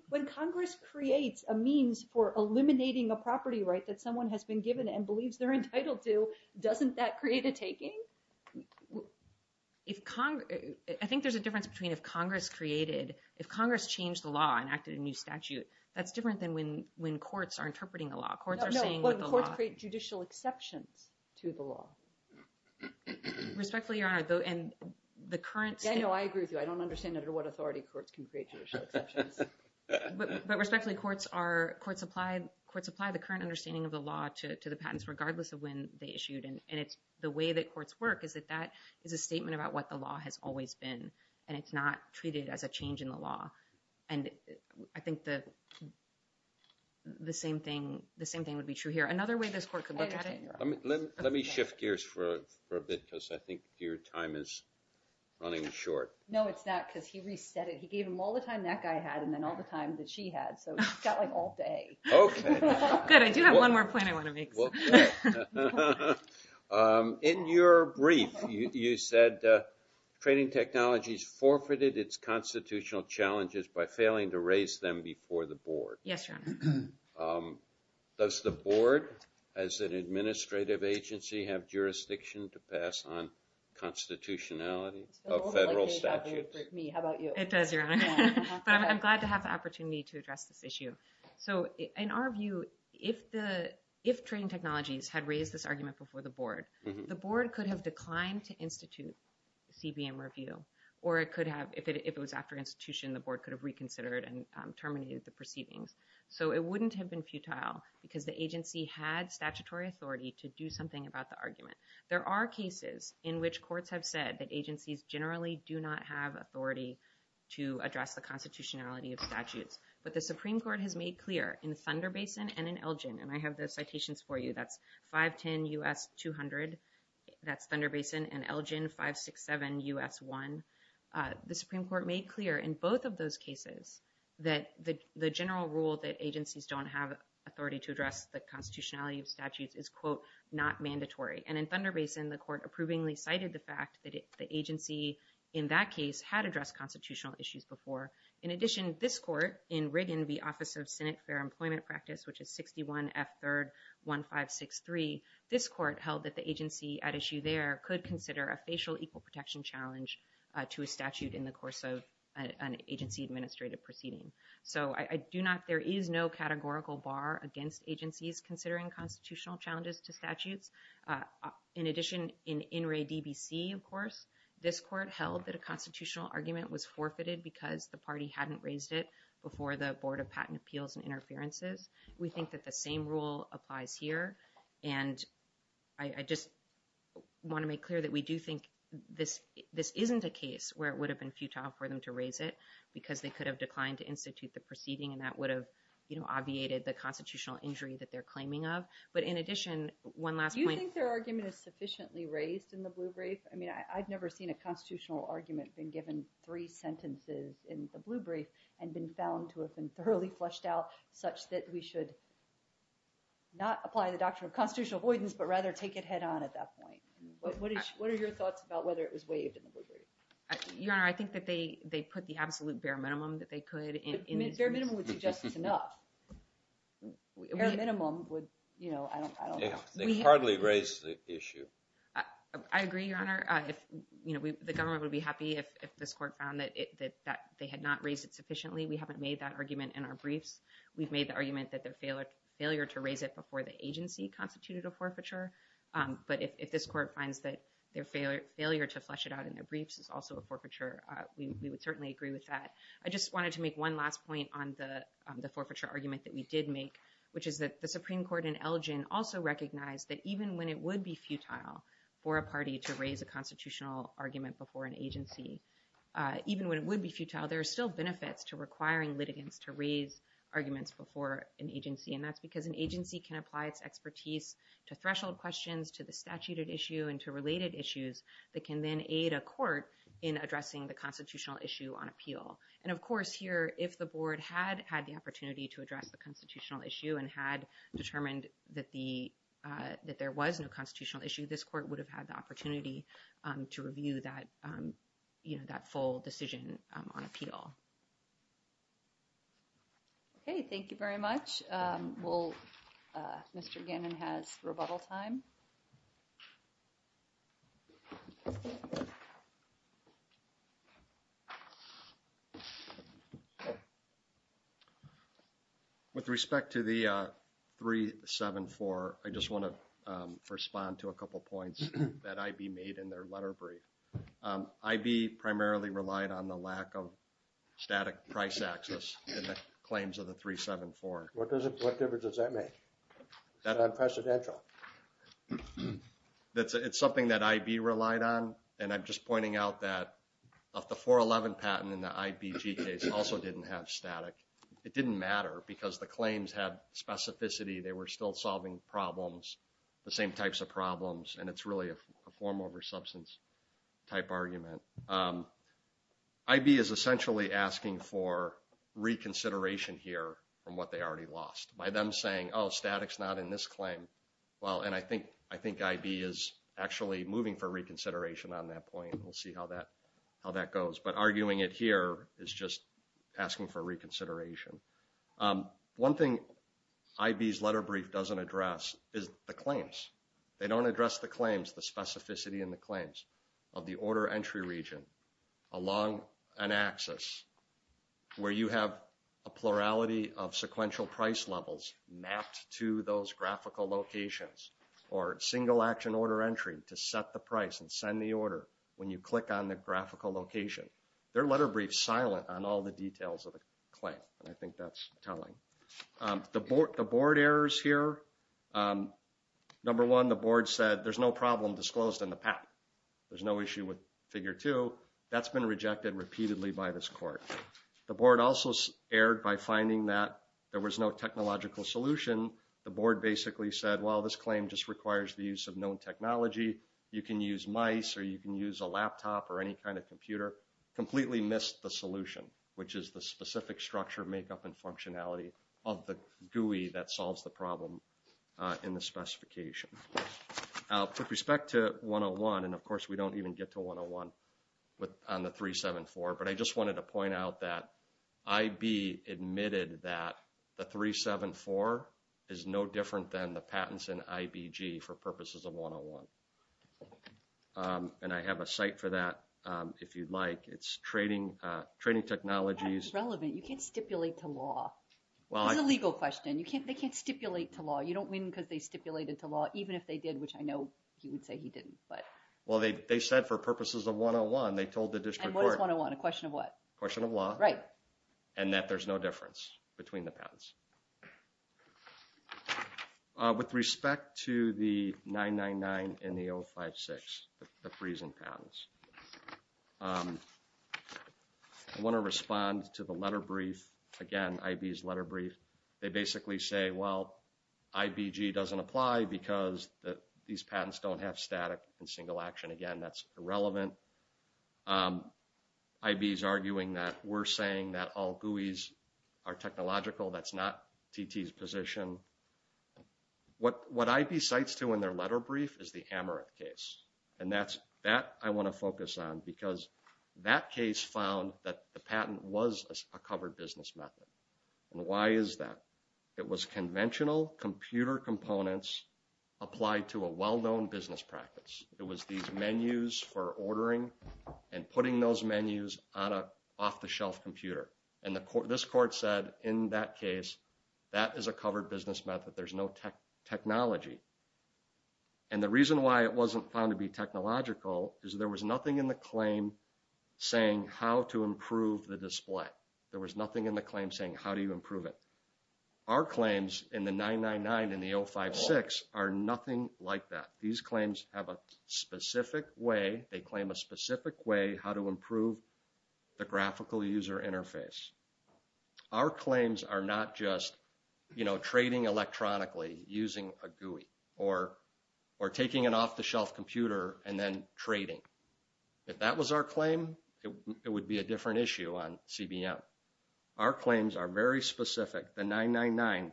When Congress creates a means for eliminating a property right that someone has been given and believes they're entitled to, doesn't that create a taking? I think there's a difference between if Congress created— if Congress changed the law and acted a new statute. That's different than when courts are interpreting the law. Courts are saying what the law— No, when courts create judicial exceptions to the law. Respectfully, Your Honor, and the current— Daniel, I agree with you. I don't understand under what authority courts can create judicial exceptions. But respectfully, courts apply the current understanding of the law to the patents, regardless of when they issued. And the way that courts work is that that is a statement about what the law has always been. And it's not treated as a change in the law. And I think the same thing would be true here. Another way this court could look at it— Let me shift gears for a bit, because I think your time is running short. No, it's not, because he reset it. He gave him all the time that guy had and then all the time that she had. So he's got, like, all day. Okay. Good. I do have one more point I want to make. In your brief, you said trading technologies forfeited its constitutional challenges by failing to raise them before the board. Yes, Your Honor. Does the board, as an administrative agency, have jurisdiction to pass on constitutionality of federal statutes? It does, Your Honor. But I'm glad to have the opportunity to address this issue. So in our view, if trading technologies had raised this argument before the board, the board could have declined to institute CBM review, or if it was after institution, the board could have reconsidered and terminated the proceedings. So it wouldn't have been futile, because the agency had statutory authority to do something about the argument. There are cases in which courts have said that agencies generally do not have authority to address the constitutionality of statutes. But the Supreme Court has made clear in Thunder Basin and in Elgin— And I have the citations for you. That's 510 U.S. 200. That's Thunder Basin and Elgin 567 U.S. 1. The Supreme Court made clear in both of those cases that the general rule that agencies don't have authority to address the constitutionality of statutes is, quote, not mandatory. And in Thunder Basin, the court approvingly cited the fact that the agency, in that case, had addressed constitutional issues before. In addition, this court, in Riggin v. Office of Senate Fair Employment Practice, which is 61 F. 3rd. 1563, this court held that the agency at issue there could consider a facial equal protection challenge to a statute in the course of an agency-administrated proceeding. So I do not—there is no categorical bar against agencies considering constitutional challenges to statutes. In addition, in In re D.B.C., of course, this court held that a constitutional argument was forfeited because the party hadn't raised it before the Board of Patent Appeals and Interferences. We think that the same rule applies here. And I just want to make clear that we do think this isn't a case where it would have been futile for them to raise it because they could have declined to institute the proceeding and that would have, you know, obviated the constitutional injury that they're claiming of. But in addition, one last point— Do you think their argument is sufficiently raised in the Blue Brief? I mean, I've never seen a constitutional argument been given three sentences in that we should not apply the doctrine of constitutional avoidance but rather take it head on at that point. What are your thoughts about whether it was waived in the Blue Brief? Your Honor, I think that they put the absolute bare minimum that they could. Bare minimum would suggest it's enough. Bare minimum would, you know, I don't know. They hardly raised the issue. I agree, Your Honor. You know, the government would be happy if this court found that they had not raised it sufficiently. We haven't made that argument in our briefs. We've made the argument that their failure to raise it before the agency constituted a forfeiture. But if this court finds that their failure to flesh it out in their briefs is also a forfeiture, we would certainly agree with that. I just wanted to make one last point on the forfeiture argument that we did make, which is that the Supreme Court in Elgin also recognized that even when it would be futile for a party to raise a constitutional argument before an agency, even when it would be futile, there are still benefits to requiring litigants to raise arguments before an agency. And that's because an agency can apply its expertise to threshold questions, to the statute of issue, and to related issues that can then aid a court in addressing the constitutional issue on appeal. And, of course, here, if the board had had the opportunity to address the constitutional issue and had determined that there was no constitutional issue, this court would have had the opportunity to review that full decision on appeal. Okay. Thank you very much. Mr. Gannon has rebuttal time. With respect to the 374, I just want to respond to a couple points that I.B. made in their letter brief. I.B. primarily relied on the lack of static price access in the claims of the 374. What difference does that make? It's unprecedented. It's something that I.B. relied on, and I'm just pointing out that the 411 patent in the I.B.G. case also didn't have static. It didn't matter because the claims had specificity. They were still solving problems, the same types of problems, and it's really a form over substance type argument. I.B. is essentially asking for reconsideration here from what they already lost by them saying, oh, static's not in this claim. Well, and I think I.B. is actually moving for reconsideration on that point. We'll see how that goes. But arguing it here is just asking for reconsideration. One thing I.B.'s letter brief doesn't address is the claims. They don't address the claims, the specificity in the claims of the order entry region along an axis where you have a plurality of sequential price levels mapped to those graphical locations or single action order entry to set the price and send the order when you click on the graphical location. Their letter brief's silent on all the details of the claim, and I think that's telling. The board errors here, number one, the board said there's no problem disclosed in the PAP. There's no issue with figure two. That's been rejected repeatedly by this court. The board also erred by finding that there was no technological solution. The board basically said, well, this claim just requires the use of known technology. You can use mice or you can use a laptop or any kind of computer. The board completely missed the solution, which is the specific structure, makeup, and functionality of the GUI that solves the problem in the specification. With respect to 101, and of course we don't even get to 101 on the 374, but I just wanted to point out that I.B. admitted that the 374 is no different than the patents in IBG for purposes of 101. And I have a site for that if you'd like. It's trading technologies. That's not relevant. You can't stipulate to law. It's a legal question. They can't stipulate to law. You don't win because they stipulated to law, even if they did, which I know he would say he didn't. Well, they said for purposes of 101. They told the district court. And what is 101? A question of what? A question of law. Right. And that there's no difference between the patents. With respect to the 999 and the 056, the freezing patents, I want to respond to the letter brief, again, IB's letter brief. They basically say, well, IBG doesn't apply because these patents don't have static and single action. Again, that's irrelevant. IB is arguing that we're saying that all GUIs are technological. That's not TT's position. What IB cites, too, in their letter brief is the Amerith case. And that I want to focus on because that case found that the patent was a covered business method. And why is that? It was conventional computer components applied to a well-known business practice. It was these menus for ordering and putting those menus on an off-the-shelf computer. And this court said, in that case, that is a covered business method. There's no technology. And the reason why it wasn't found to be technological is there was nothing in the claim saying how to improve the display. There was nothing in the claim saying how do you improve it. Our claims in the 999 and the 056 are nothing like that. These claims have a specific way. They claim a specific way how to improve the graphical user interface. Our claims are not just trading electronically using a GUI or taking an off-the-shelf computer and then trading. If that was our claim, it would be a different issue on CBM. Our claims are very specific. The 999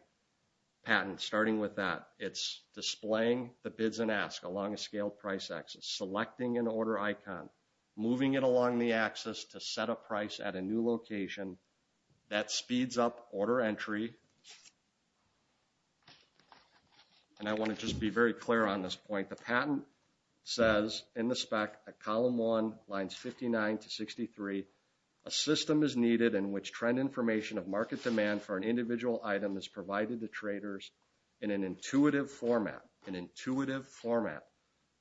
patent, starting with that, it's displaying the bids and ask along a scaled price axis, selecting an order icon, moving it along the axis to set a price at a new location. That speeds up order entry. And I want to just be very clear on this point. The patent says in the spec at column 1, lines 59 to 63, a system is needed in which trend information of market demand for an individual item is provided to traders in an intuitive format, an intuitive format,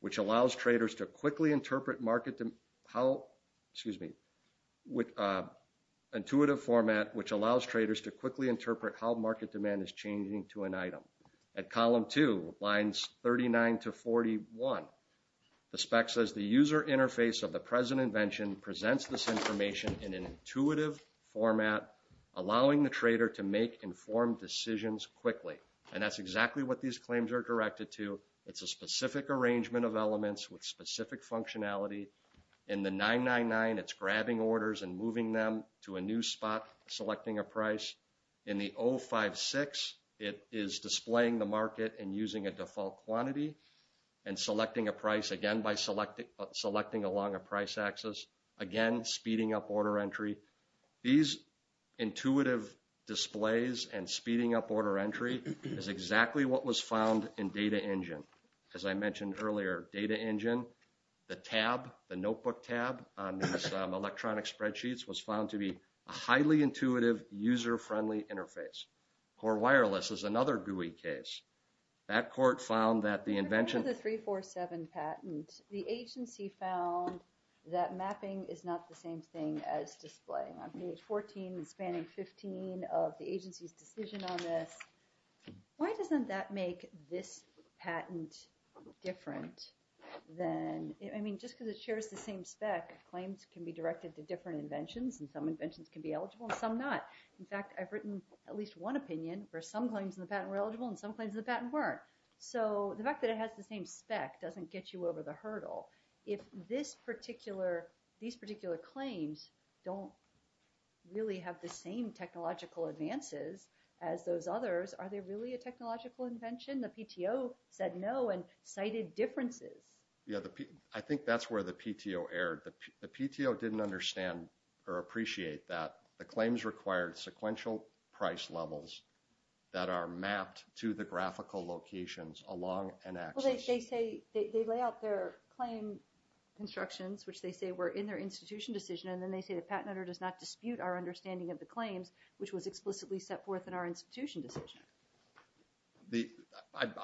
which allows traders to quickly interpret how market demand is changing to an item. At column 2, lines 39 to 41, the spec says the user interface of the present invention presents this information in an intuitive format, allowing the trader to make informed decisions quickly. And that's exactly what these claims are directed to. It's a specific arrangement of elements with specific functionality. In the 999, it's grabbing orders and moving them to a new spot, selecting a price. In the 056, it is displaying the market and using a default quantity and selecting a price, again, by selecting along a price axis, again, speeding up order entry. These intuitive displays and speeding up order entry is exactly what was found in Data Engine. As I mentioned earlier, Data Engine, the tab, the notebook tab on these electronic spreadsheets was found to be a highly intuitive, user-friendly interface. Core Wireless is another GUI case. That court found that the invention... It's displaying on page 14 and spanning 15 of the agency's decision on this. Why doesn't that make this patent different than... I mean, just because it shares the same spec, claims can be directed to different inventions, and some inventions can be eligible and some not. In fact, I've written at least one opinion where some claims in the patent were eligible and some claims in the patent weren't. So the fact that it has the same spec doesn't get you over the hurdle. If these particular claims don't really have the same technological advances as those others, are they really a technological invention? The PTO said no and cited differences. Yeah, I think that's where the PTO erred. The PTO didn't understand or appreciate that the claims required sequential price levels that are mapped to the graphical locations along an axis. Well, they say they lay out their claim instructions, which they say were in their institution decision, and then they say the patent owner does not dispute our understanding of the claims, which was explicitly set forth in our institution decision.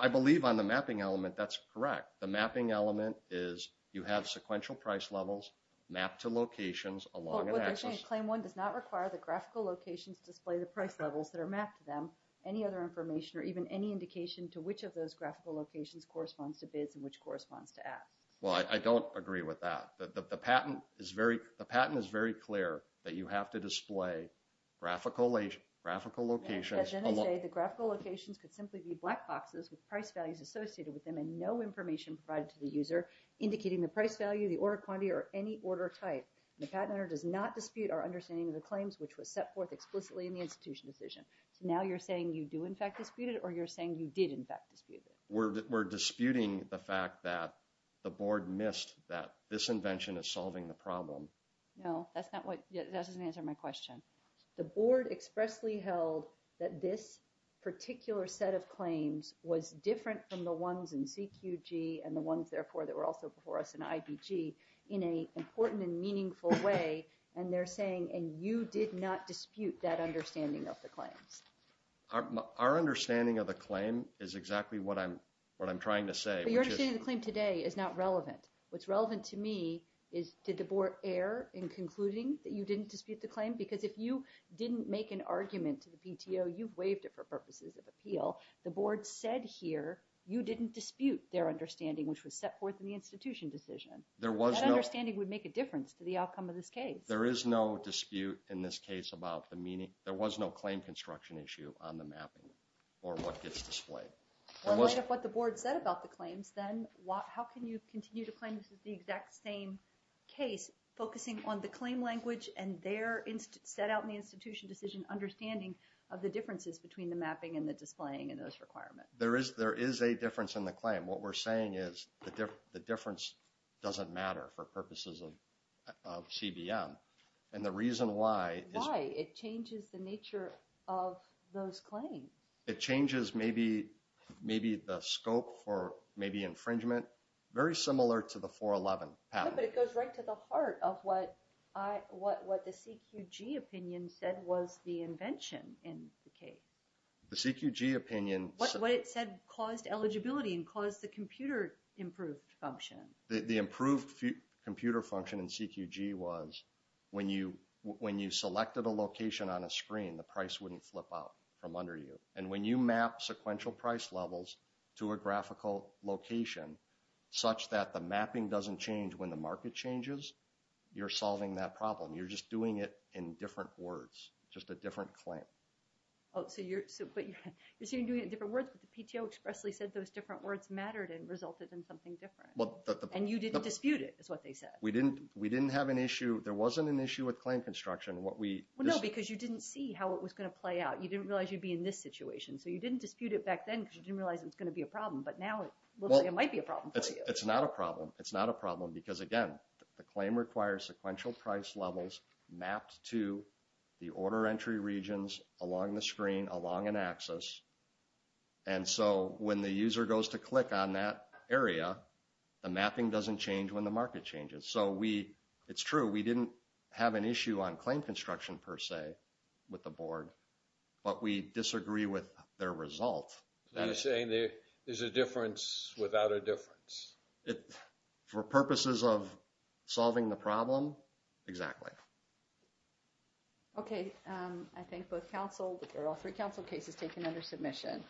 I believe on the mapping element that's correct. The mapping element is you have sequential price levels mapped to locations along an axis. But what they're saying is Claim 1 does not require the graphical locations to display the price levels that are mapped to them, any other information or even any indication to which of those graphical locations corresponds to bids and which corresponds to ads. Well, I don't agree with that. The patent is very clear that you have to display graphical locations. And then they say the graphical locations could simply be black boxes with price values associated with them and no information provided to the user indicating the price value, the order quantity, or any order type. The patent owner does not dispute our understanding of the claims, which was set forth explicitly in the institution decision. So now you're saying you do, in fact, dispute it, or you're saying you did, in fact, dispute it? We're disputing the fact that the board missed that this invention is solving the problem. No, that doesn't answer my question. The board expressly held that this particular set of claims was different from the ones in CQG and the ones, therefore, that were also before us in IBG in an important and meaningful way, and they're saying, and you did not dispute that understanding of the claims. Our understanding of the claim is exactly what I'm trying to say. But your understanding of the claim today is not relevant. What's relevant to me is did the board err in concluding that you didn't dispute the claim? Because if you didn't make an argument to the PTO, you've waived it for purposes of appeal. The board said here you didn't dispute their understanding, which was set forth in the institution decision. That understanding would make a difference to the outcome of this case. There is no dispute in this case about the meaning. There was no claim construction issue on the mapping or what gets displayed. Well, like what the board said about the claims, then, how can you continue to claim this is the exact same case, focusing on the claim language and their set out in the institution decision understanding of the differences between the mapping and the displaying and those requirements? There is a difference in the claim. What we're saying is the difference doesn't matter for purposes of CBM. And the reason why is- Why? It changes the nature of those claims. It changes maybe the scope for maybe infringement, very similar to the 411 patent. But it goes right to the heart of what the CQG opinion said was the invention in the case. The CQG opinion- What was the computer improved function? The improved computer function in CQG was when you selected a location on a screen, the price wouldn't flip out from under you. And when you map sequential price levels to a graphical location, such that the mapping doesn't change when the market changes, you're solving that problem. You're just doing it in different words, just a different claim. Oh, so you're doing it in different words, but the PTO expressly said those different words mattered and resulted in something different. And you didn't dispute it, is what they said. We didn't have an issue. There wasn't an issue with claim construction. No, because you didn't see how it was going to play out. You didn't realize you'd be in this situation. So you didn't dispute it back then because you didn't realize it was going to be a problem. But now it might be a problem for you. It's not a problem. It's not a problem because, again, the claim requires sequential price levels mapped to the order entry regions along the screen, along an axis. And so when the user goes to click on that area, the mapping doesn't change when the market changes. So it's true, we didn't have an issue on claim construction per se with the board, but we disagree with their result. So you're saying there's a difference without a difference. For purposes of solving the problem, exactly. Okay. I think both counsel, or all three counsel cases taken under submission.